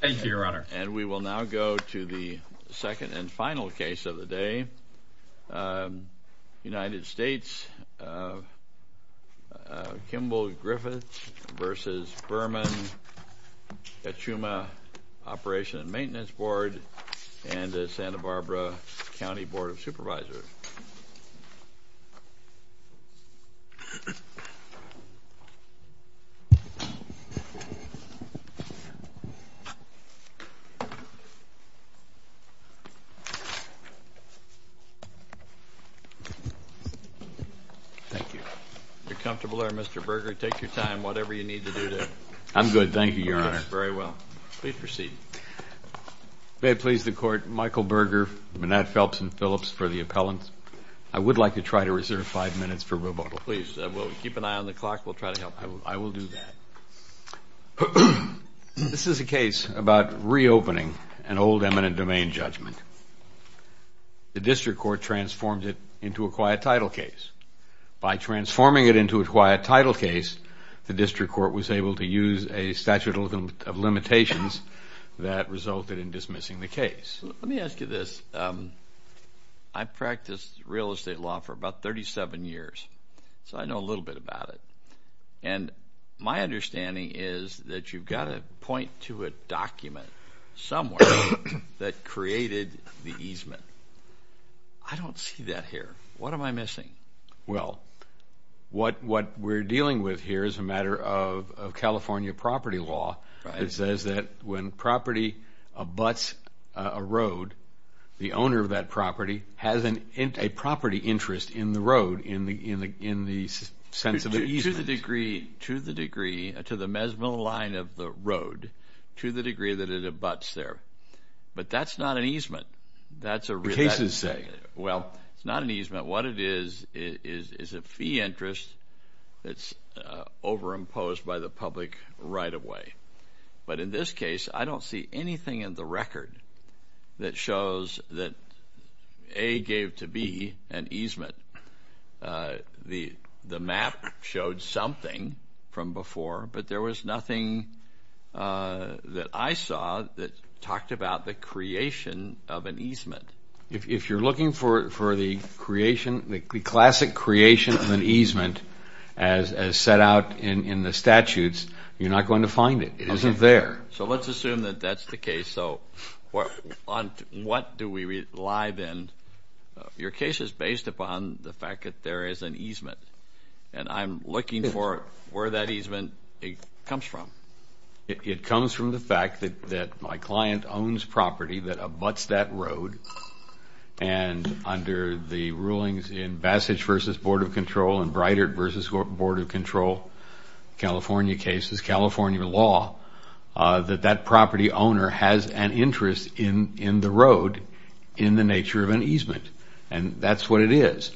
And we will now go to the second and final case of the day, United States, Kimball-Griffith v. Burman, Kachuma Operation and Maintenance Board, and the Santa Barbara County Board of Supervisors. Mr. Burger, take your time, whatever you need to do today. I'm good, thank you, Your Honor. Yes, very well. Please proceed. May it please the Court, Michael Burger, Manette Phelps, and Phillips for the appellants. I would like to try to reserve five minutes for rebuttal. Please, we'll keep an eye on the clock. We'll try to help. I will do that. This is a case about reopening an old eminent domain judgment. The district court transformed it into a quiet title case. By transforming it into a quiet title case, the district court was able to use a statute of limitations that resulted in dismissing the case. Let me ask you this. I practiced real estate law for about 37 years, so I know a little bit about it. And my understanding is that you've got to point to a document somewhere that created the easement. I don't see that here. What am I missing? Well, what we're dealing with here is a matter of California property law. It says that when property abuts a road, the owner of that property has a property interest in the road, in the sense of the easement. To the degree that it abuts there. But that's not an easement. That's a reality. Well, it's not an easement. What it is is a fee interest that's overimposed by the public right away. But in this case, I don't see anything in the record that shows that A gave to B an easement. The map showed something from before, but there was nothing that I saw that talked about the creation of an easement. If you're looking for the classic creation of an easement as set out in the statutes, you're not going to find it. It isn't there. So let's assume that that's the case. So on what do we rely then? Your case is based upon the fact that there is an easement. And I'm looking for where that easement comes from. It comes from the fact that my client owns property that abuts that road. And under the rulings in Bassage v. Board of Control and Breitart v. Board of Control California cases, California law, that that property owner has an interest in the road in the nature of an easement. And that's what it is.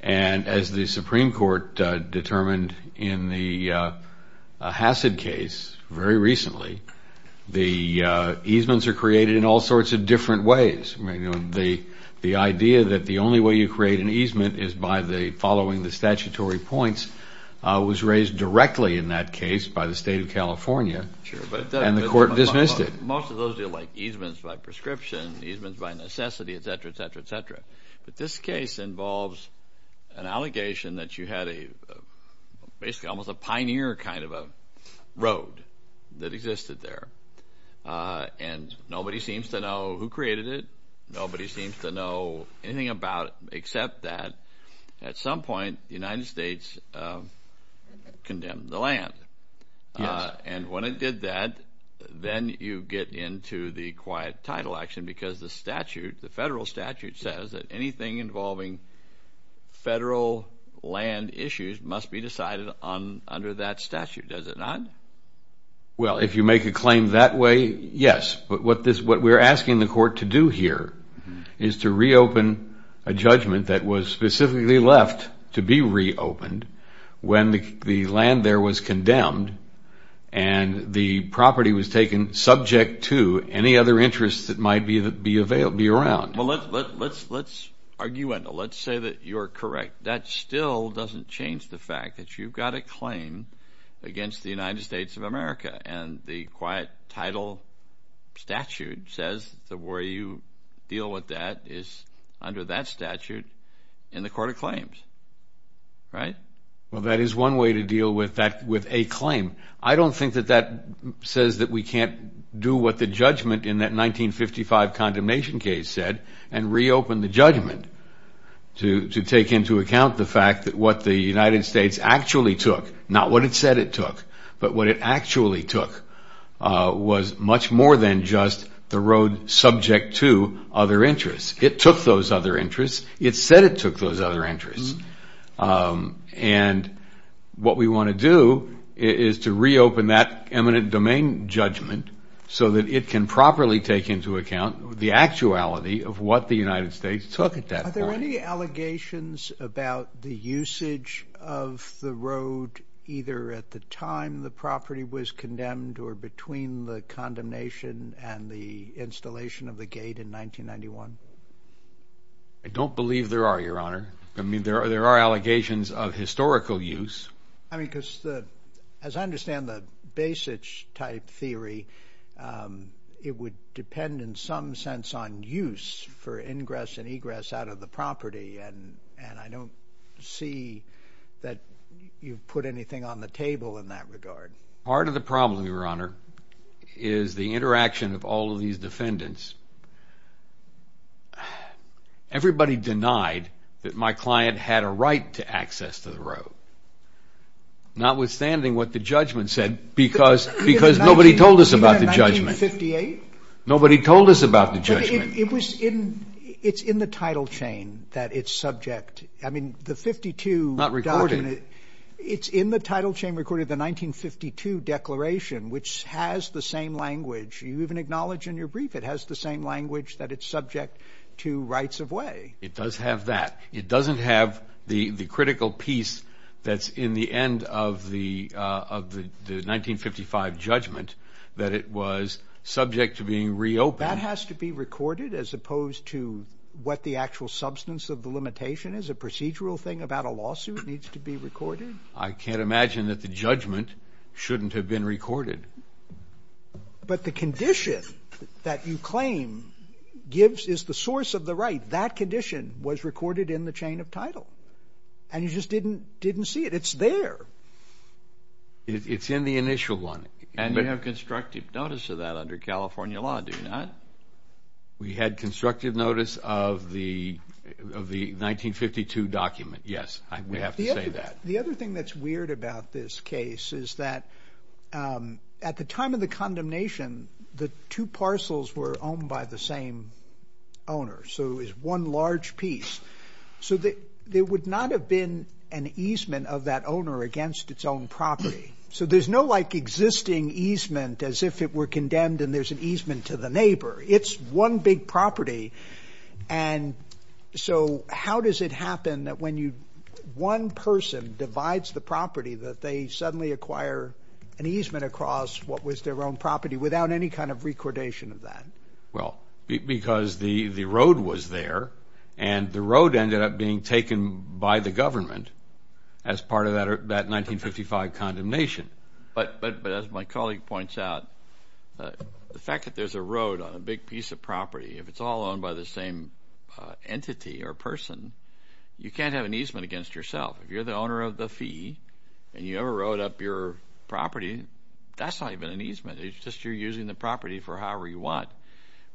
And as the Supreme Court determined in the Hassad case very recently, the easements are created in all sorts of different ways. The idea that the only way you create an easement is by following the statutory points was raised directly in that case by the State of California, and the Court dismissed it. Most of those deal like easements by prescription, easements by necessity, et cetera, et cetera, et cetera. But this case involves an allegation that you had a – basically almost a pioneer kind of a road that existed there. And nobody seems to know who created it. Nobody seems to know anything about it except that at some point the United States condemned the land. And when it did that, then you get into the quiet title action because the statute, the federal statute says that anything involving federal land issues must be decided under that statute. Does it not? Well, if you make a claim that way, yes. But what we're asking the Court to do here is to reopen a judgment that was specifically left to be reopened when the land there was condemned and the property was taken subject to any other interests that might be around. Well, let's argue – let's say that you're correct. That still doesn't change the fact that you've got a claim against the United States of America, and the quiet title statute says that where you deal with that is under that statute in the Court of Claims, right? Well, that is one way to deal with that – with a claim. I don't think that that says that we can't do what the judgment in that 1955 condemnation case said and reopen the judgment to take into account the fact that what the United States actually took – not what it said it took, but what it actually took – was much more than just the road subject to other interests. It took those other interests. It said it took those other interests. And what we want to do is to reopen that eminent domain judgment so that it can properly take into account the actuality of what the United States took at that point. Are there any allegations about the usage of the road either at the time the property was condemned or between the condemnation and the installation of the gate in 1991? I don't believe there are, Your Honor. I mean, there are allegations of historical use. I mean, because the – as I understand the Basich-type theory, it would depend in some sense on use for ingress and egress out of the property, and I don't see that you've put anything on the table in that regard. Part of the problem, Your Honor, is the interaction of all of these defendants. Everybody denied that my client had a right to access to the road, notwithstanding what the judgment said, because nobody told us about the judgment. 1958? Nobody told us about the judgment. It's in the title chain that it's subject – I mean, the 52 document – Not recorded. It's in the title chain recorded, the 1952 declaration, which has the same language. You even acknowledge in your brief it has the same language that it's subject to rights of way. It does have that. It doesn't have the critical piece that's in the end of the 1955 judgment that it was subject to being reopened. That has to be recorded as opposed to what the actual substance of the limitation is? A procedural thing about a lawsuit needs to be recorded? I can't imagine that the judgment shouldn't have been recorded. But the condition that you claim gives – is the source of the right. That condition was recorded in the chain of title, and you just didn't see it. It's there. It's in the initial one. And you have constructive notice of that under California law, do you not? We had constructive notice of the 1952 document, yes. We have to say that. The other thing that's weird about this case is that at the time of the condemnation, the two parcels were owned by the same owner, so it was one large piece. So there would not have been an easement of that owner against its own property. So there's no existing easement as if it were condemned and there's an easement to the neighbor. It's one big property, and so how does it happen that when one person divides the property that they suddenly acquire an easement across what was their own property without any kind of recordation of that? Well, because the road was there, and the road ended up being taken by the government as part of that 1955 condemnation. But as my colleague points out, the fact that there's a road on a big piece of property, if it's all owned by the same entity or person, you can't have an easement against yourself. If you're the owner of the fee and you ever road up your property, that's not even an easement. It's just you're using the property for however you want.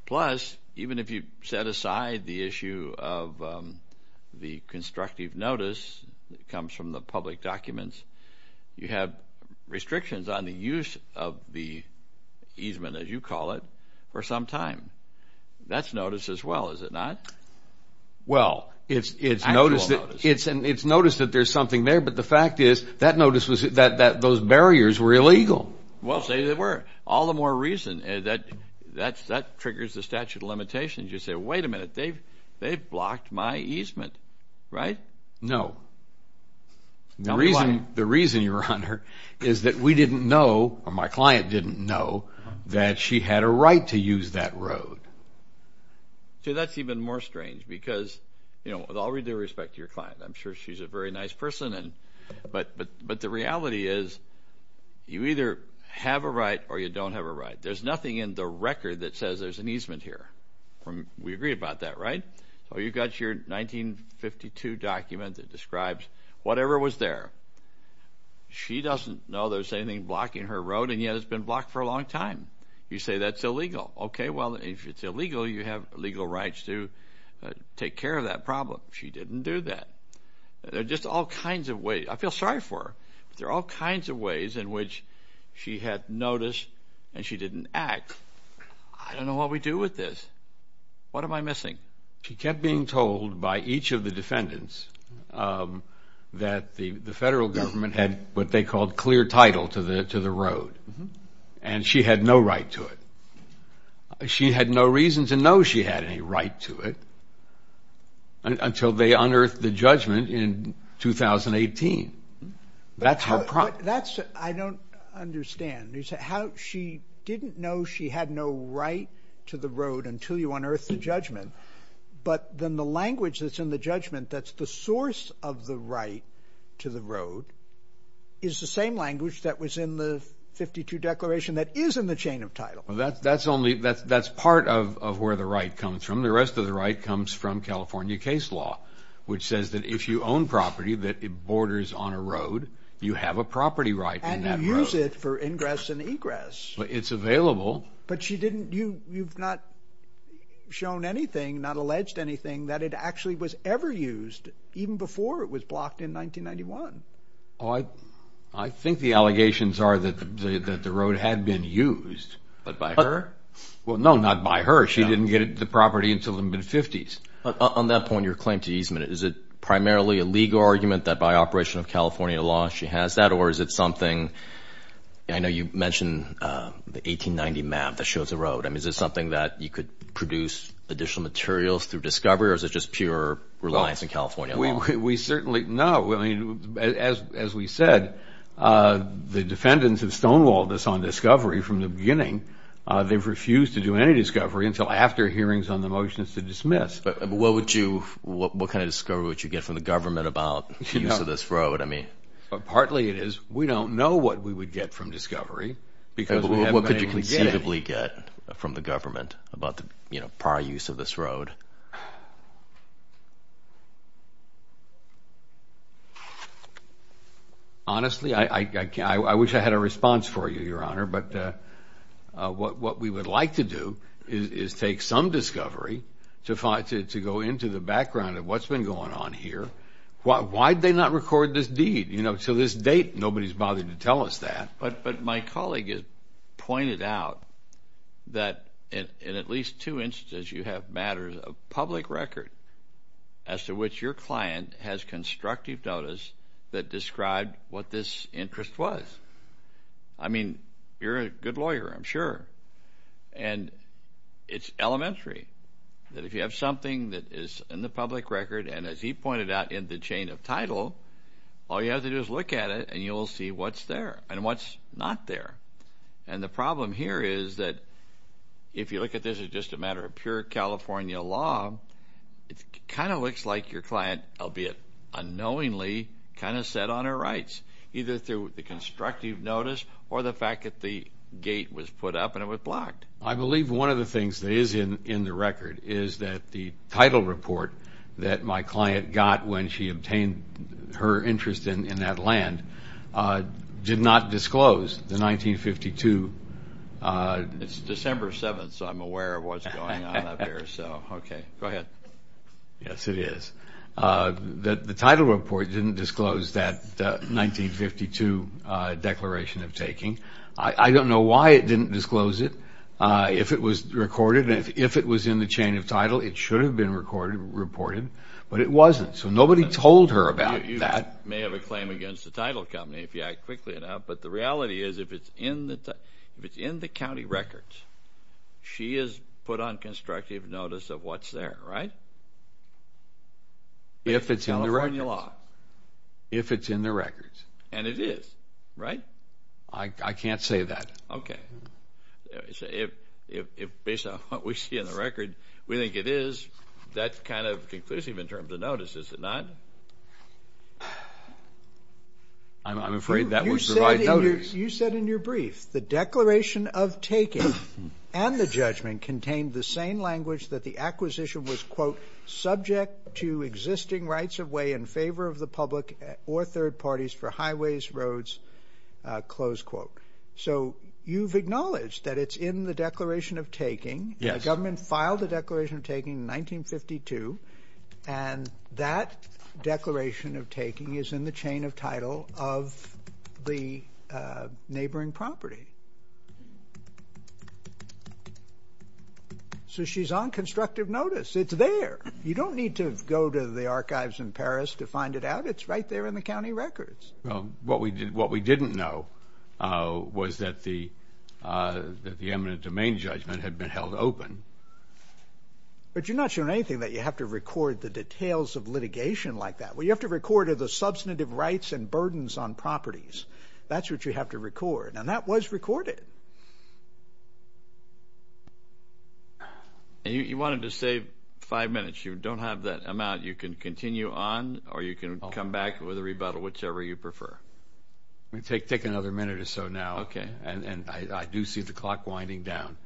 Plus, even if you set aside the issue of the constructive notice that comes from the public documents, you have restrictions on the use of the easement, as you call it, for some time. That's notice as well, is it not? Well, it's notice that there's something there, but the fact is that notice was that those barriers were illegal. Well, say they were. All the more reason that triggers the statute of limitations. You say, wait a minute, they've blocked my easement, right? No. Tell me why. The reason, Your Honor, is that we didn't know, or my client didn't know, that she had a right to use that road. See, that's even more strange because, you know, with all due respect to your client, I'm sure she's a very nice person, but the reality is you either have a right or you don't have a right. There's nothing in the record that says there's an easement here. We agree about that, right? So you've got your 1952 document that describes whatever was there. She doesn't know there's anything blocking her road, and yet it's been blocked for a long time. You say that's illegal. Okay, well, if it's illegal, you have legal rights to take care of that problem. She didn't do that. There are just all kinds of ways. I feel sorry for her, but there are all kinds of ways in which she had notice and she didn't act. I don't know what we do with this. What am I missing? She kept being told by each of the defendants that the federal government had what they called clear title to the road, and she had no right to it. She had no reason to know she had any right to it until they unearthed the judgment in 2018. That's her problem. I don't understand. You said she didn't know she had no right to the road until you unearthed the judgment, but then the language that's in the judgment that's the source of the right to the road is the same language that was in the 52 Declaration that is in the chain of title. That's part of where the right comes from. The rest of the right comes from California case law, which says that if you own property that borders on a road, you have a property right in that road. And you use it for ingress and egress. It's available. But you've not shown anything, not alleged anything, that it actually was ever used even before it was blocked in 1991. I think the allegations are that the road had been used, but by her? Well, no, not by her. She didn't get the property until the mid-'50s. On that point, your claim to easement, is it primarily a legal argument that by operation of California law she has that, or is it something? I know you mentioned the 1890 map that shows the road. I mean, is it something that you could produce additional materials through discovery, or is it just pure reliance on California law? We certainly know. As we said, the defendants have stonewalled us on discovery from the beginning. They've refused to do any discovery until after hearings on the motion is to dismiss. What kind of discovery would you get from the government about the use of this road? Partly it is we don't know what we would get from discovery because we haven't been able to get it. What could you conceivably get from the government about the prior use of this road? Honestly, I wish I had a response for you, Your Honor, but what we would like to do is take some discovery to go into the background of what's been going on here. Why did they not record this deed? You know, to this date nobody's bothered to tell us that. But my colleague has pointed out that in at least two instances you have matters of public record as to which your client has constructive notice that describe what this interest was. I mean, you're a good lawyer, I'm sure. And it's elementary that if you have something that is in the public record, and as he pointed out, in the chain of title, all you have to do is look at it and you'll see what's there and what's not there. And the problem here is that if you look at this as just a matter of pure California law, it kind of looks like your client, albeit unknowingly, kind of set on her rights, either through the constructive notice or the fact that the gate was put up and it was blocked. I believe one of the things that is in the record is that the title report that my client got when she obtained her interest in that land did not disclose the 1952. It's December 7th, so I'm aware of what's going on up here. So, okay, go ahead. Yes, it is. The title report didn't disclose that 1952 declaration of taking. I don't know why it didn't disclose it. If it was recorded and if it was in the chain of title, it should have been recorded, reported, but it wasn't. So nobody told her about that. You may have a claim against the title company if you act quickly enough, but the reality is if it's in the county records, she is put on constructive notice of what's there, right? If it's in the records. California law. If it's in the records. And it is, right? I can't say that. Okay. If based on what we see in the record, we think it is, that's kind of conclusive in terms of notice, is it not? I'm afraid that would provide notice. You said in your brief the declaration of taking and the judgment contained the same language that the acquisition was, quote, So you've acknowledged that it's in the declaration of taking. The government filed the declaration of taking in 1952, and that declaration of taking is in the chain of title of the neighboring property. So she's on constructive notice. It's there. You don't need to go to the archives in Paris to find it out. It's right there in the county records. Well, what we didn't know was that the eminent domain judgment had been held open. But you're not showing anything that you have to record the details of litigation like that. What you have to record are the substantive rights and burdens on properties. That's what you have to record. And that was recorded. You wanted to save five minutes. You don't have that amount. You can continue on, or you can come back with a rebuttal, whichever you prefer. Let me take another minute or so now. Okay. And I do see the clock winding down.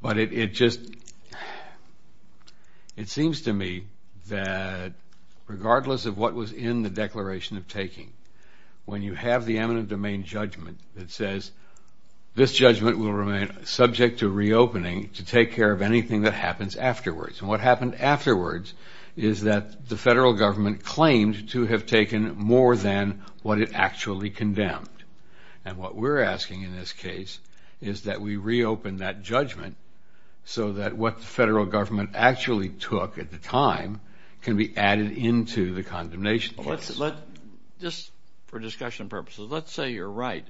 But it just seems to me that regardless of what was in the declaration of taking, when you have the eminent domain judgment that says, this judgment will remain subject to reopening to take care of anything that happens afterwards. And what happened afterwards is that the federal government claimed to have taken more than what it actually condemned. And what we're asking in this case is that we reopen that judgment so that what the federal government actually took at the time can be added into the condemnation case. Just for discussion purposes, let's say you're right.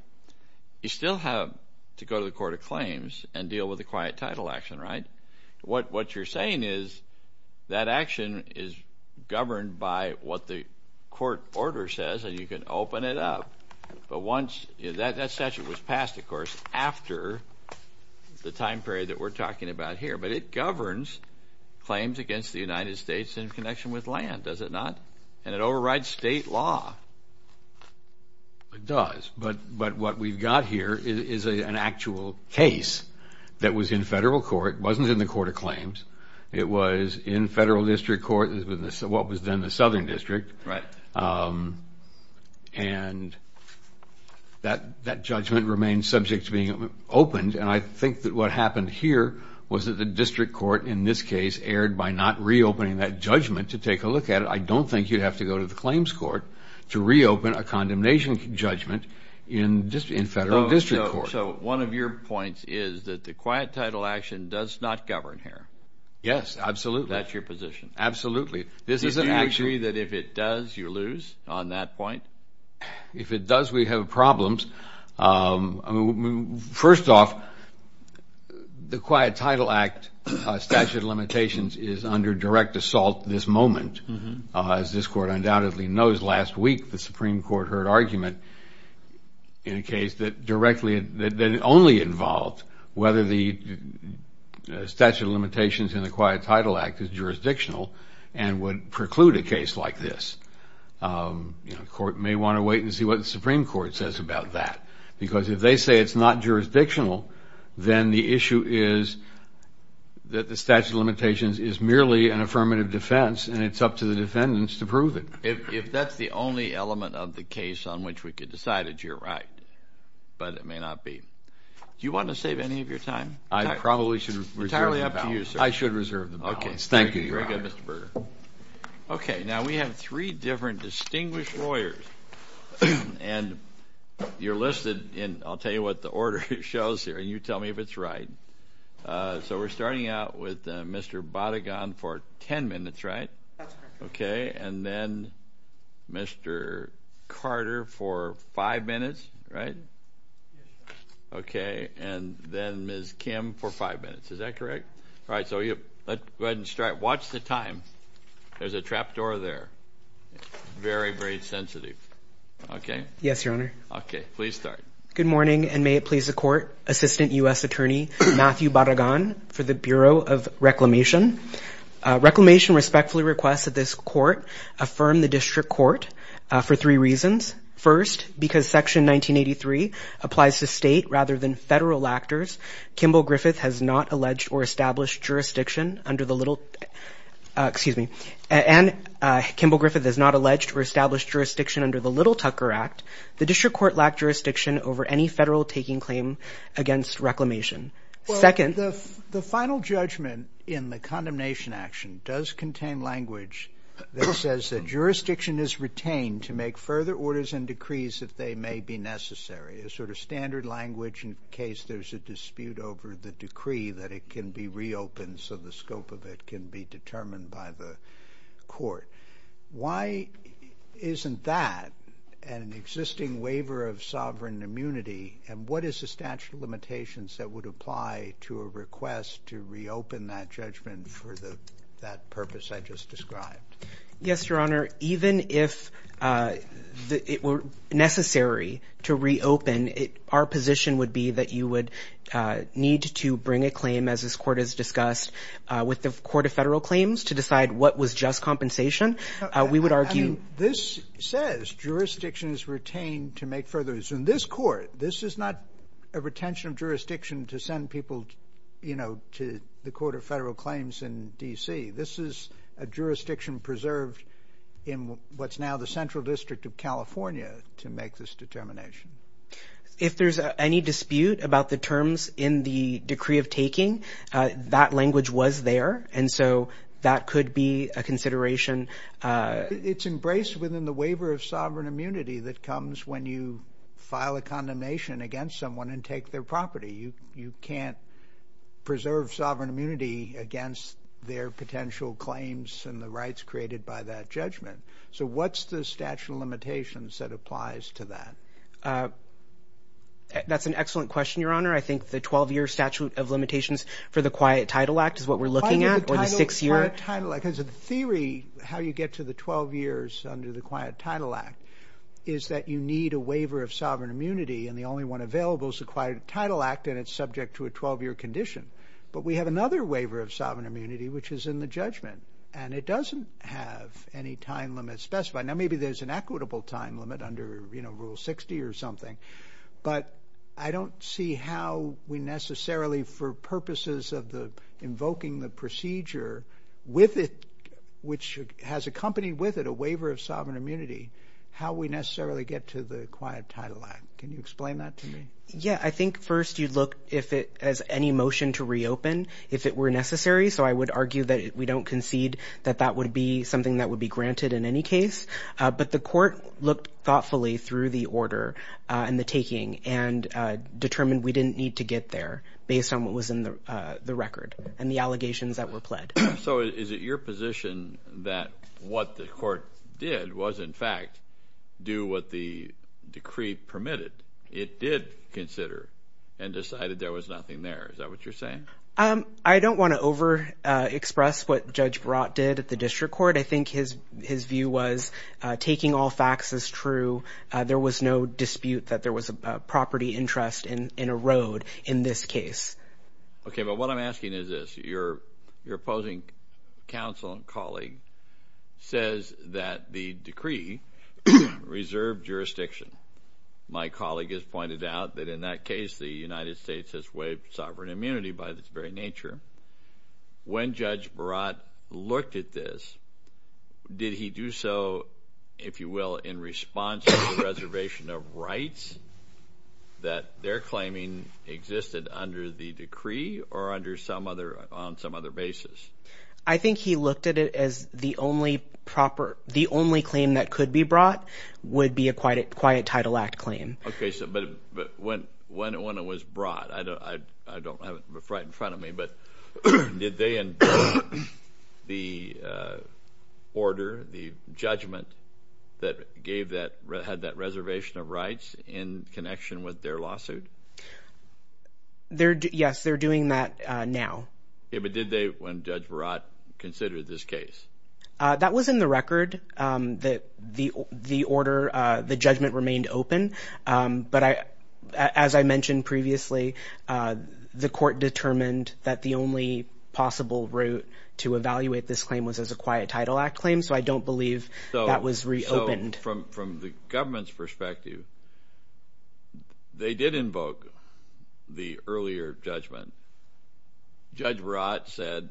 You still have to go to the court of claims and deal with the quiet title action, right? What you're saying is that action is governed by what the court order says, and you can open it up. But that statute was passed, of course, after the time period that we're talking about here. But it governs claims against the United States in connection with land, does it not? And it overrides state law. It does. But what we've got here is an actual case that was in federal court. It wasn't in the court of claims. It was in federal district court, what was then the southern district. Right. And that judgment remained subject to being opened. And I think that what happened here was that the district court in this case erred by not reopening that judgment to take a look at it. I don't think you'd have to go to the claims court to reopen a condemnation judgment in federal district court. So one of your points is that the quiet title action does not govern here. Yes, absolutely. That's your position. Absolutely. Do you agree that if it does, you lose on that point? If it does, we have problems. First off, the quiet title act statute of limitations is under direct assault this moment. As this court undoubtedly knows, last week the Supreme Court heard argument in a case that directly that only involved whether the statute of limitations in the quiet title act is jurisdictional and would preclude a case like this. The court may want to wait and see what the Supreme Court says about that. Because if they say it's not jurisdictional, then the issue is that the statute of limitations is merely an affirmative defense, and it's up to the defendants to prove it. If that's the only element of the case on which we could decide that you're right, but it may not be. Do you want to save any of your time? I probably should reserve the balance. It's entirely up to you, sir. I should reserve the balance. Thank you. Very good, Mr. Berger. Okay, now we have three different distinguished lawyers, and you're listed in, I'll tell you what the order shows here, and you tell me if it's right. So we're starting out with Mr. Badagan for 10 minutes, right? That's correct. Okay, and then Mr. Carter for five minutes, right? Yes, sir. Okay, and then Ms. Kim for five minutes. Is that correct? Yes, sir. All right, so let's go ahead and start. Watch the time. There's a trap door there. Very, very sensitive. Okay. Yes, Your Honor. Okay, please start. Good morning, and may it please the Court, Assistant U.S. Attorney Matthew Badagan for the Bureau of Reclamation. Reclamation respectfully requests that this Court affirm the district court for three reasons. First, because Section 1983 applies to state rather than federal actors, Kimball Griffith has not alleged or established jurisdiction under the Little Tucker Act, the district court lacked jurisdiction over any federal taking claim against reclamation. Well, the final judgment in the condemnation action does contain language that says that jurisdiction is retained to make further orders and decrees if they may be necessary, a sort of standard language in case there's a dispute over the decree that it can be reopened so the scope of it can be determined by the court. Why isn't that an existing waiver of sovereign immunity, and what is the statute of limitations that would apply to a request to reopen that judgment for that purpose I just described? Yes, Your Honor, even if it were necessary to reopen, our position would be that you would need to bring a claim, as this Court has discussed, with the Court of Federal Claims to decide what was just compensation. We would argue this says jurisdiction is retained to make further. In this Court, this is not a retention of jurisdiction to send people to the Court of Federal Claims in D.C. This is a jurisdiction preserved in what's now the Central District of California to make this determination. If there's any dispute about the terms in the decree of taking, that language was there, and so that could be a consideration. It's embraced within the waiver of sovereign immunity that comes when you file a condemnation against someone and take their property. That's the statute of limitations that applies to that. That's an excellent question, Your Honor. I think the 12-year statute of limitations for the Quiet Title Act is what we're looking at, or the six-year. The theory how you get to the 12 years under the Quiet Title Act is that you need a waiver of sovereign immunity, and the only one available is the Quiet Title Act, and it's subject to a 12-year condition. But we have another waiver of sovereign immunity, which is in the judgment, and it doesn't have any time limit specified. Now, maybe there's an equitable time limit under Rule 60 or something, but I don't see how we necessarily, for purposes of invoking the procedure with it, which has accompanied with it a waiver of sovereign immunity, how we necessarily get to the Quiet Title Act. Can you explain that to me? Yeah, I think first you look if it has any motion to reopen if it were necessary, so I would argue that we don't concede that that would be something that would be granted in any case. But the Court looked thoughtfully through the order and the taking and determined we didn't need to get there and, in fact, do what the decree permitted. It did consider and decided there was nothing there. Is that what you're saying? I don't want to overexpress what Judge Barat did at the District Court. I think his view was taking all facts as true. There was no dispute that there was a property interest in a road in this case. Okay, but what I'm asking is this. Your opposing counsel and colleague says that the decree reserved jurisdiction. My colleague has pointed out that in that case the United States has waived sovereign immunity by its very nature. When Judge Barat looked at this, did he do so, if you will, in response to the reservation of rights that their claiming existed under the decree or on some other basis? I think he looked at it as the only claim that could be brought would be a Quiet Title Act claim. Okay, but when it was brought, I don't have it right in front of me, but did they endorse the order, the judgment that had that reservation of rights in connection with their lawsuit? Yes, they're doing that now. Okay, but did they, when Judge Barat considered this case? That was in the record. The order, the judgment remained open. But as I mentioned previously, the court determined that the only possible route to evaluate this claim was as a Quiet Title Act claim, so I don't believe that was reopened. So from the government's perspective, they did invoke the earlier judgment. Judge Barat said,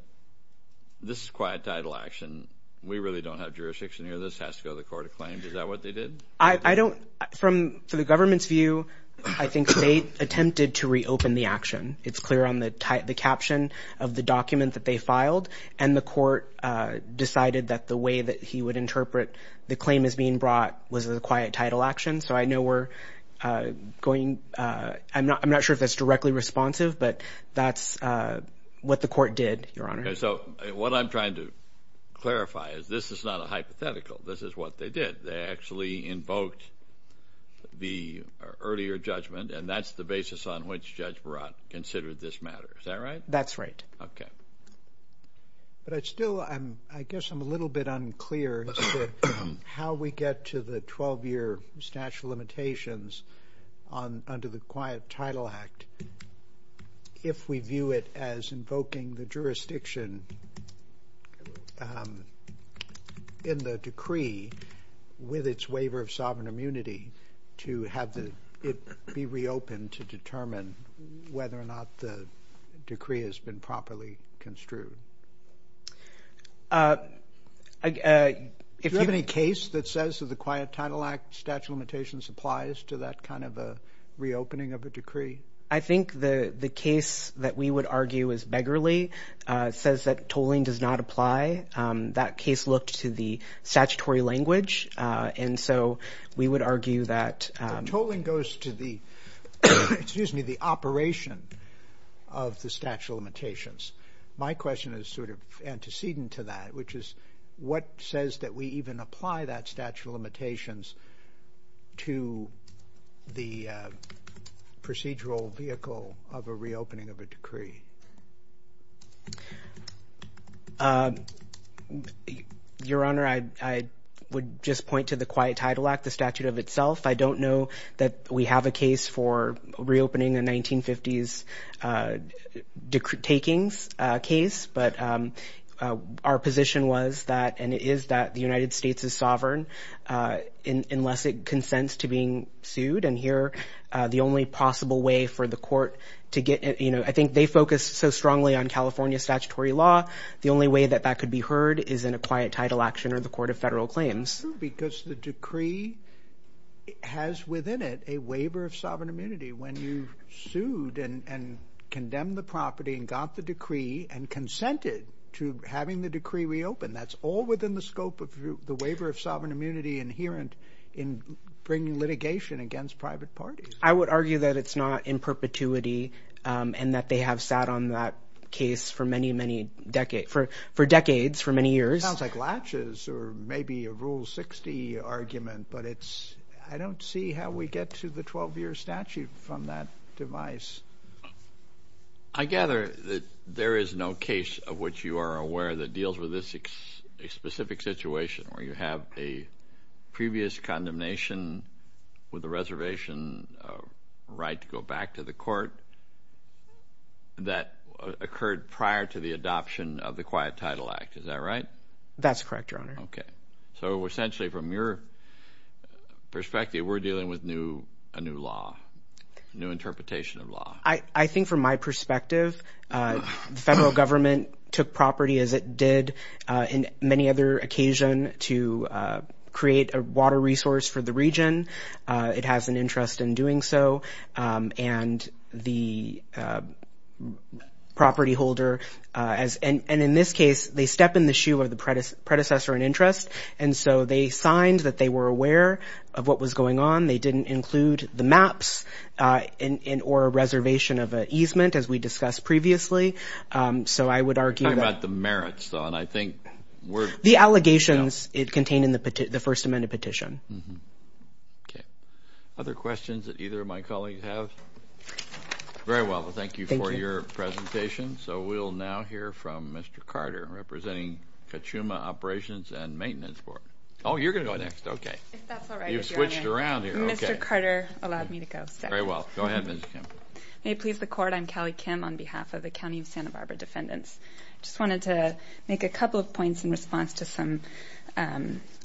this is Quiet Title action. We really don't have jurisdiction here. This has to go to the court of claims. Is that what they did? I don't, from the government's view, I think they attempted to reopen the action. It's clear on the caption of the document that they filed, and the court decided that the way that he would interpret the claim as being brought was a Quiet Title action, so I know we're going, I'm not sure if that's directly responsive, but that's what the court did, Your Honor. Okay, so what I'm trying to clarify is this is not a hypothetical. This is what they did. They actually invoked the earlier judgment, and that's the basis on which Judge Barat considered this matter. Is that right? That's right. Okay. But I still, I guess I'm a little bit unclear as to how we get to the 12-year statute of limitations under the Quiet Title Act if we view it as invoking the jurisdiction in the decree with its waiver of sovereign immunity to have it be reopened to determine whether or not the decree has been properly construed. Do you have any case that says that the Quiet Title Act statute of limitations applies to that kind of a reopening of a decree? I think the case that we would argue is beggarly. It says that tolling does not apply. That case looked to the statutory language, and so we would argue that The tolling goes to the, excuse me, the operation of the statute of limitations. My question is sort of antecedent to that, which is what says that we even apply that statute of limitations to the procedural vehicle of a reopening of a decree? Your Honor, I would just point to the Quiet Title Act, the statute of itself. I don't know that we have a case for reopening the 1950s takings case, but our position was that, and it is that, the United States is sovereign unless it consents to being sued. And here, the only possible way for the court to get, you know, I think they focus so strongly on California statutory law. The only way that that could be heard is in a Quiet Title Action or the Court of Federal Claims. Because the decree has within it a waiver of sovereign immunity. When you sued and condemned the property and got the decree and consented to having the decree reopened, that's all within the scope of the waiver of sovereign immunity inherent in bringing litigation against private parties. I would argue that it's not in perpetuity and that they have sat on that case for many, many decades, for decades, for many years. It sounds like latches or maybe a Rule 60 argument, but it's, I don't see how we get to the 12-year statute from that device. I gather that there is no case of which you are aware that deals with this specific situation where you have a previous condemnation with a reservation right to go back to the court that occurred prior to the adoption of the Quiet Title Act. Is that right? That's correct, Your Honor. Okay. So, essentially, from your perspective, we're dealing with a new law, a new interpretation of law. I think from my perspective, the federal government took property as it did in many other occasion to create a water resource for the region. It has an interest in doing so. And the property holder, and in this case, they step in the shoe of the predecessor in interest, and so they signed that they were aware of what was going on. They didn't include the maps or a reservation of an easement, as we discussed previously. So I would argue that… Talk about the merits, though, and I think we're… The allegations contained in the First Amendment petition. Okay. Other questions that either of my colleagues have? Very well. Well, thank you for your presentation. So we'll now hear from Mr. Carter, representing Kachuma Operations and Maintenance Board. Oh, you're going to go next. Okay. If that's all right with you, Your Honor. You've switched around here. Okay. Mr. Carter allowed me to go second. Very well. Go ahead, Ms. Kim. May it please the Court, I'm Kelly Kim on behalf of the County of Santa Barbara Defendants. I just wanted to make a couple of points in response to some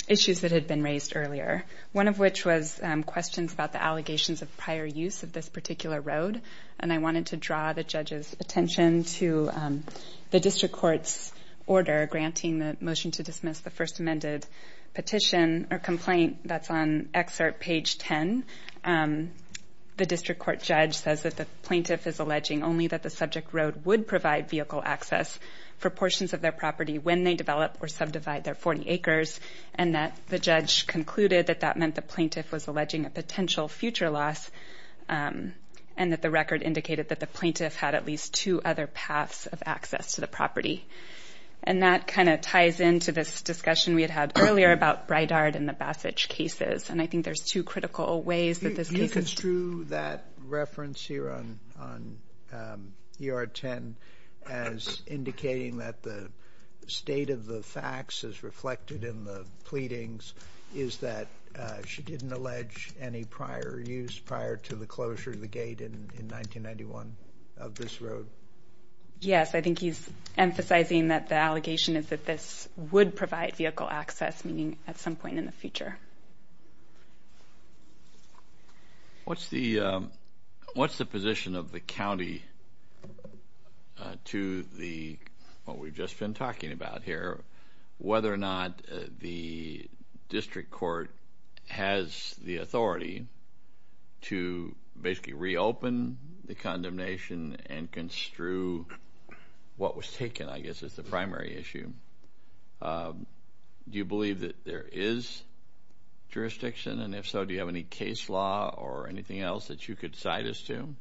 issues that had been raised earlier, one of which was questions about the allegations of prior use of this particular road, and I wanted to draw the judge's attention to the district court's order granting the motion to dismiss the First Amendment petition or complaint that's on excerpt page 10. The district court judge says that the plaintiff is alleging only that the subject road would provide vehicle access for portions of their property when they develop or subdivide their 40 acres, and that the judge concluded that that meant the plaintiff was alleging a potential future loss and that the record indicated that the plaintiff had at least two other paths of access to the property. And that kind of ties into this discussion we had had earlier about Bridard and the Bassage cases, and I think there's two critical ways that this case is true. To that reference here on ER 10 as indicating that the state of the facts is reflected in the pleadings, is that she didn't allege any prior use prior to the closure of the gate in 1991 of this road? Yes, I think he's emphasizing that the allegation is that this would provide vehicle access, What's the position of the county to the, what we've just been talking about here, whether or not the district court has the authority to basically reopen the condemnation and construe what was taken, I guess, as the primary issue? Do you believe that there is jurisdiction? And if so, do you have any case law or anything else that you could cite us to?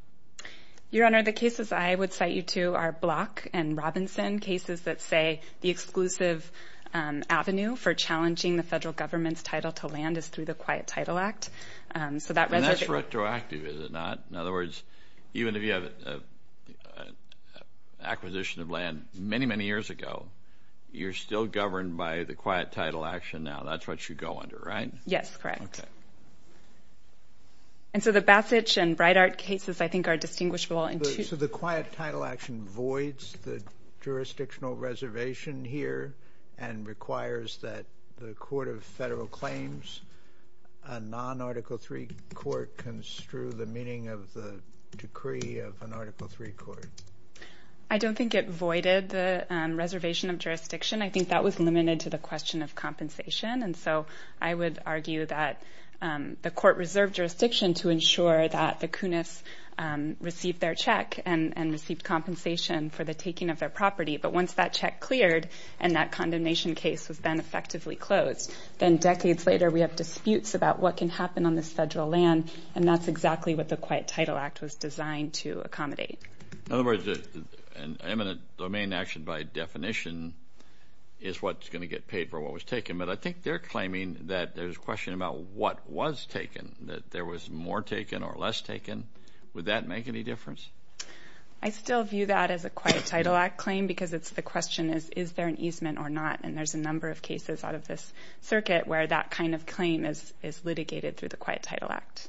Your Honor, the cases I would cite you to are Block and Robinson, cases that say the exclusive avenue for challenging the federal government's title to land is through the Quiet Title Act. And that's retroactive, is it not? In other words, even if you have acquisition of land many, many years ago, you're still governed by the Quiet Title Action now. That's what you go under, right? Yes, correct. And so the Bassich and Breitart cases, I think, are distinguishable. So the Quiet Title Action voids the jurisdictional reservation here and requires that the court of federal claims, a non-Article III court, construe the meaning of the decree of an Article III court. I don't think it voided the reservation of jurisdiction. I think that was limited to the question of compensation. And so I would argue that the court reserved jurisdiction to ensure that the Kunis received their check and received compensation for the taking of their property. But once that check cleared and that condemnation case was then effectively closed, then decades later we have disputes about what can happen on this federal land, and that's exactly what the Quiet Title Act was designed to accommodate. In other words, an eminent domain action by definition is what's going to get paid for what was taken. But I think they're claiming that there's a question about what was taken, that there was more taken or less taken. Would that make any difference? I still view that as a Quiet Title Act claim because the question is, is there an easement or not? And there's a number of cases out of this circuit where that kind of claim is litigated through the Quiet Title Act.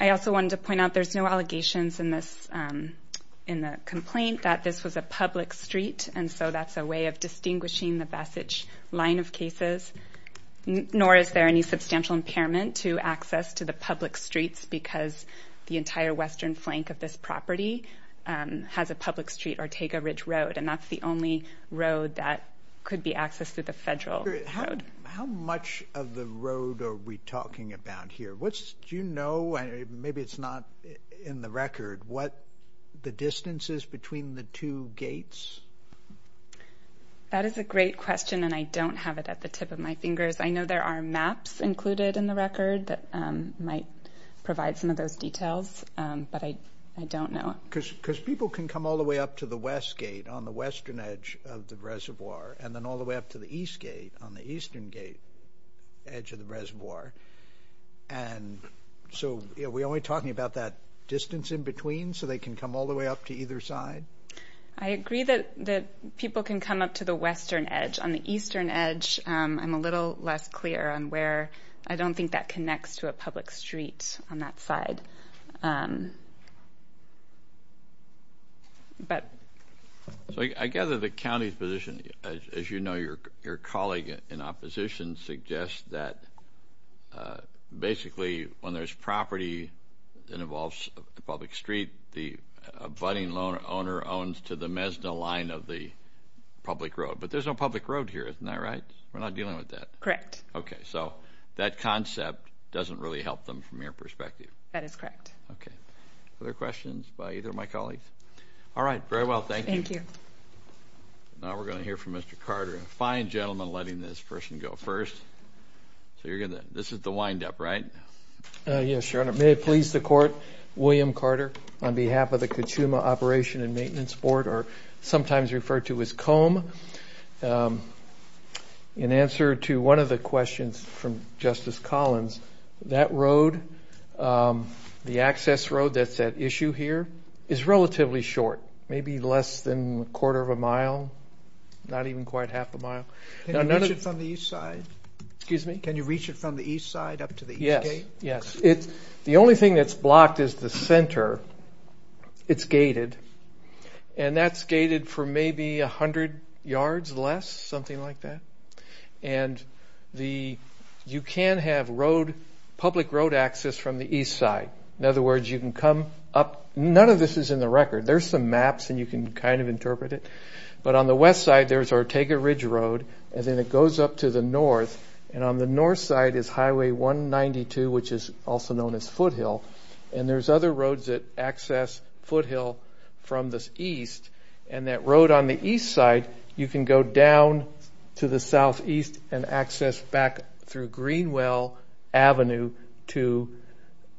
I also wanted to point out there's no allegations in the complaint that this was a public street, and so that's a way of distinguishing the Bessage line of cases, nor is there any substantial impairment to access to the public streets because the entire western flank of this property has a public street, Ortega Ridge Road, and that's the only road that could be accessed through the federal road. How much of the road are we talking about here? Do you know, maybe it's not in the record, what the distance is between the two gates? That is a great question, and I don't have it at the tip of my fingers. I know there are maps included in the record that might provide some of those details, but I don't know. Because people can come all the way up to the west gate on the western edge of the reservoir and then all the way up to the east gate on the eastern edge of the reservoir, and so are we only talking about that distance in between so they can come all the way up to either side? I agree that people can come up to the western edge. On the eastern edge, I'm a little less clear on where. I don't think that connects to a public street on that side. I gather the county's position, as you know, your colleague in opposition, suggests that basically when there's property that involves a public street, the abutting owner owns to the Mesna line of the public road. But there's no public road here, isn't that right? We're not dealing with that. Correct. Okay, so that concept doesn't really help them from your perspective. That is correct. Okay. Other questions by either of my colleagues? All right, very well. Thank you. Thank you. Now we're going to hear from Mr. Carter. A fine gentleman letting this person go first. This is the wind-up, right? Yes, Your Honor. May it please the Court, William Carter on behalf of the Kachuma Operation and Maintenance Board, or sometimes referred to as COMB, in answer to one of the questions from Justice Collins, that road, the access road that's at issue here, is relatively short, maybe less than a quarter of a mile, not even quite half a mile. Can you reach it from the east side? Excuse me? Can you reach it from the east side up to the east gate? Yes, yes. The only thing that's blocked is the center. It's gated. And that's gated for maybe 100 yards less, something like that. And you can have road, public road access from the east side. In other words, you can come up. None of this is in the record. There's some maps, and you can kind of interpret it. But on the west side, there's Ortega Ridge Road, and then it goes up to the north, and on the north side is Highway 192, which is also known as Foothill. And there's other roads that access Foothill from the east, and that road on the east side, you can go down to the southeast and access back through Greenwell Avenue to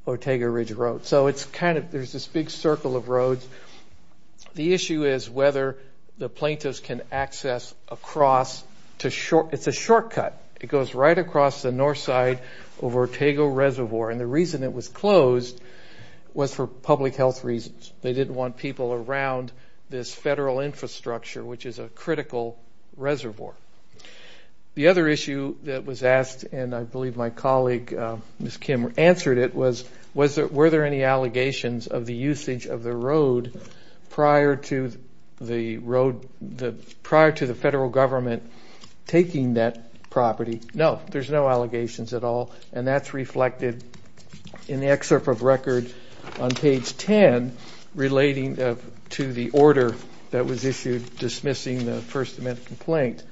Ortega Ridge Road. So it's kind of – there's this big circle of roads. The issue is whether the plaintiffs can access across to – it's a shortcut. It goes right across the north side over Ortega Reservoir. And the reason it was closed was for public health reasons. They didn't want people around this federal infrastructure, which is a critical reservoir. The other issue that was asked, and I believe my colleague, Ms. Kim, answered it, was were there any allegations of the usage of the road prior to the road – No, there's no allegations at all, and that's reflected in the excerpt of record on page 10 relating to the order that was issued dismissing the First Amendment complaint.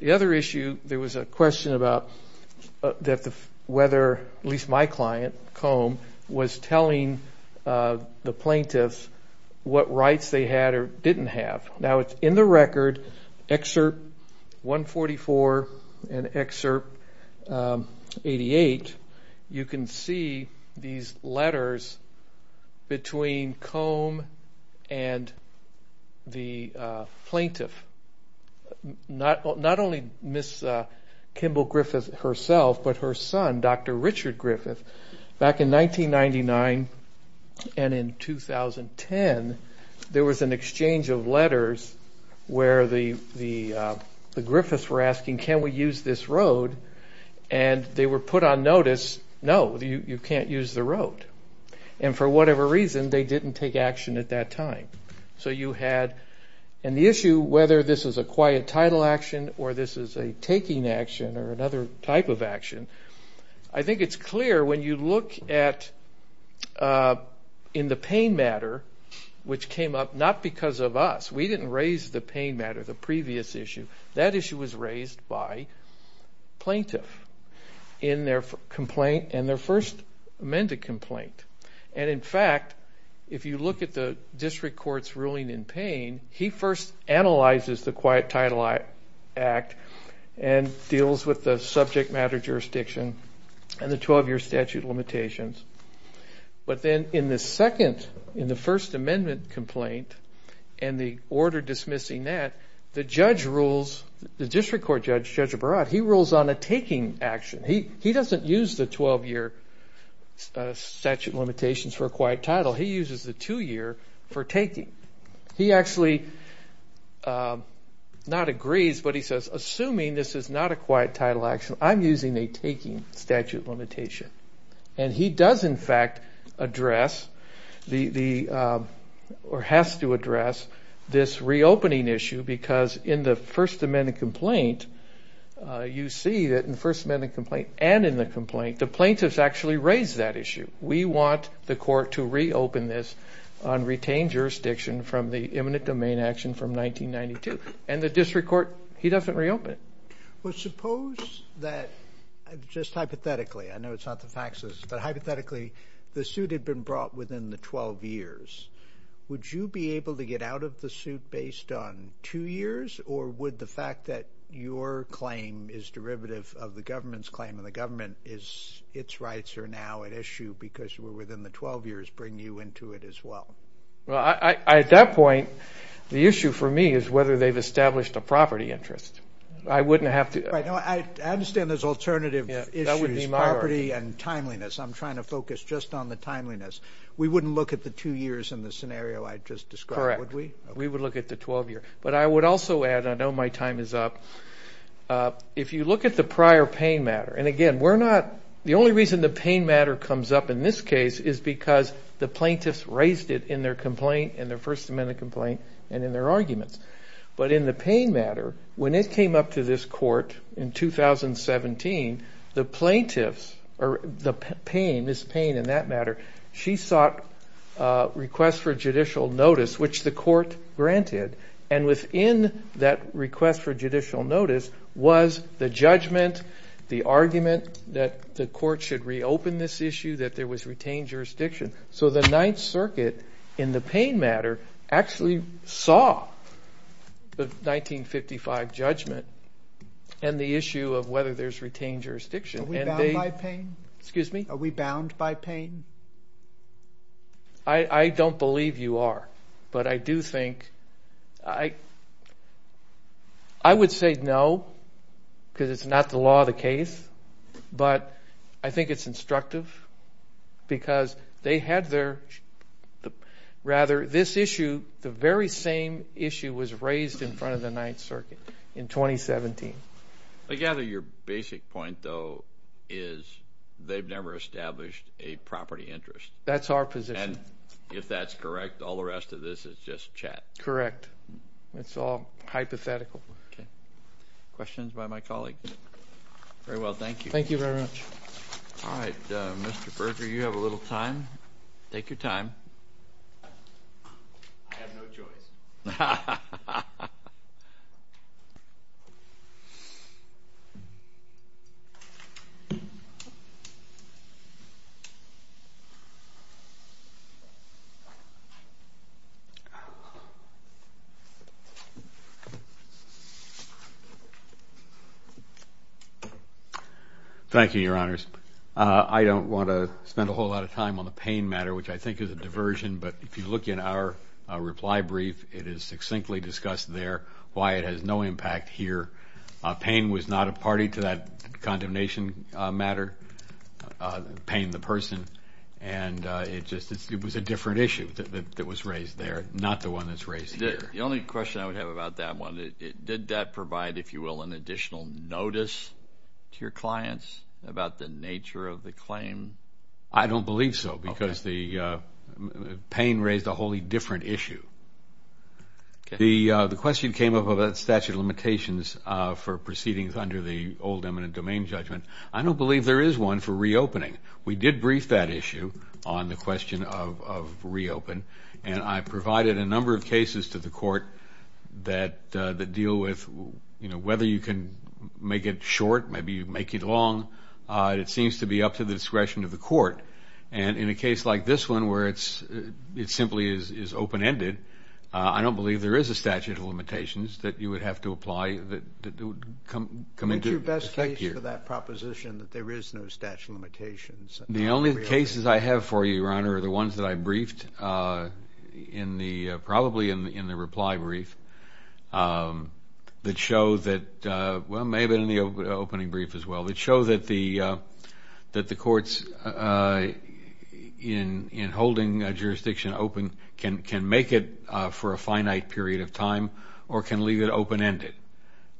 The other issue, there was a question about whether – at least my client, Combe, was telling the plaintiffs what rights they had or didn't have. Now, it's in the record, Excerpt 144 and Excerpt 88. You can see these letters between Combe and the plaintiff, not only Ms. Kimball Griffith herself but her son, Dr. Richard Griffith. Back in 1999 and in 2010, there was an exchange of letters where the Griffiths were asking, can we use this road? And they were put on notice, no, you can't use the road. And for whatever reason, they didn't take action at that time. So you had – and the issue, whether this is a quiet title action I think it's clear when you look at in the pain matter, which came up not because of us. We didn't raise the pain matter, the previous issue. That issue was raised by plaintiff in their complaint and their First Amendment complaint. And in fact, if you look at the district court's ruling in pain, he first analyzes the quiet title act and deals with the subject matter jurisdiction and the 12-year statute of limitations. But then in the second – in the First Amendment complaint and the order dismissing that, the judge rules – the district court judge, Judge Barad, he rules on a taking action. He doesn't use the 12-year statute of limitations for a quiet title. He uses the two-year for taking. He actually not agrees, but he says, assuming this is not a quiet title action, I'm using a taking statute of limitation. And he does in fact address the – or has to address this reopening issue because in the First Amendment complaint, you see that in the First Amendment complaint and in the complaint, the plaintiffs actually raised that issue. We want the court to reopen this on retained jurisdiction from the imminent domain action from 1992. And the district court, he doesn't reopen it. Well, suppose that just hypothetically – I know it's not the faxes, but hypothetically the suit had been brought within the 12 years. Would you be able to get out of the suit based on two years or would the fact that your claim is derivative of the government's claim and the government is – its rights are now at issue because we're within the 12 years bring you into it as well? Well, at that point, the issue for me is whether they've established a property interest. I wouldn't have to – I understand there's alternative issues, property and timeliness. I'm trying to focus just on the timeliness. We wouldn't look at the two years in the scenario I just described, would we? Correct. We would look at the 12-year. But I would also add, I know my time is up, if you look at the prior pain matter, and again, we're not – the only reason the pain matter comes up in this case is because the plaintiffs raised it in their complaint, in their First Amendment complaint, and in their arguments. But in the pain matter, when it came up to this court in 2017, the plaintiffs – or the pain, Ms. Payne in that matter, she sought requests for judicial notice, which the court granted. And within that request for judicial notice was the judgment, the argument that the court should reopen this issue, that there was retained jurisdiction. So the Ninth Circuit in the pain matter actually saw the 1955 judgment and the issue of whether there's retained jurisdiction. Are we bound by pain? Excuse me? Are we bound by pain? I don't believe you are. But I do think – I would say no because it's not the law of the case, but I think it's instructive because they had their – rather, this issue, the very same issue was raised in front of the Ninth Circuit in 2017. I gather your basic point, though, is they've never established a property interest. That's our position. And if that's correct, all the rest of this is just chat. Correct. It's all hypothetical. Questions by my colleague? Very well, thank you. Thank you very much. All right. Mr. Berger, you have a little time. Take your time. I have no choice. Ha, ha, ha, ha. Thank you, Your Honors. I don't want to spend a whole lot of time on the pain matter, which I think is a diversion, but if you look in our reply brief, it is succinctly discussed there why it has no impact here. Pain was not a party to that condemnation matter, pain the person, and it was a different issue that was raised there, not the one that's raised here. The only question I would have about that one, did that provide, if you will, an additional notice to your clients about the nature of the claim? I don't believe so because the pain raised a wholly different issue. The question came up about statute of limitations for proceedings under the old eminent domain judgment. I don't believe there is one for reopening. We did brief that issue on the question of reopen, and I provided a number of cases to the court that deal with, you know, whether you can make it short, maybe you make it long. It seems to be up to the discretion of the court, and in a case like this one where it simply is open-ended, I don't believe there is a statute of limitations that you would have to apply. What's your best case for that proposition that there is no statute of limitations? The only cases I have for you, Your Honor, are the ones that I briefed probably in the reply brief that show that, well, maybe in the opening brief as well, that show that the courts in holding a jurisdiction open can make it for a finite period of time or can leave it open-ended.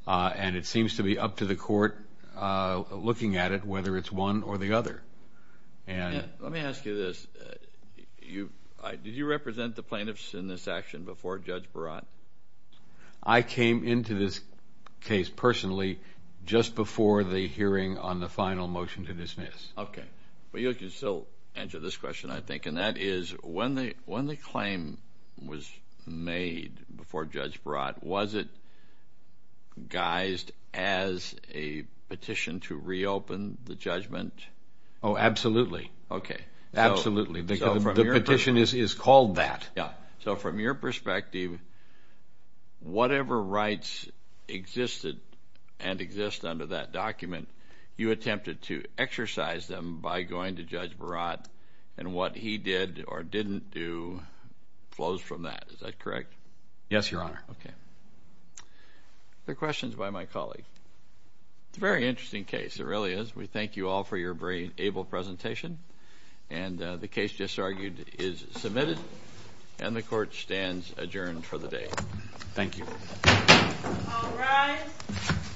And it seems to be up to the court looking at it, whether it's one or the other. Let me ask you this. Did you represent the plaintiffs in this action before Judge Barat? I came into this case personally just before the hearing on the final motion to dismiss. Okay. But you can still answer this question, I think, and that is when the claim was made before Judge Barat, was it guised as a petition to reopen the judgment? Oh, absolutely. Okay. Absolutely. The petition is called that. Yeah. So from your perspective, whatever rights existed and exist under that document, you attempted to exercise them by going to Judge Barat, and what he did or didn't do flows from that. Is that correct? Yes, Your Honor. Okay. Other questions by my colleague? It's a very interesting case. It really is. We thank you all for your very able presentation. And the case just argued is submitted, and the Court stands adjourned for the day. Thank you. All rise.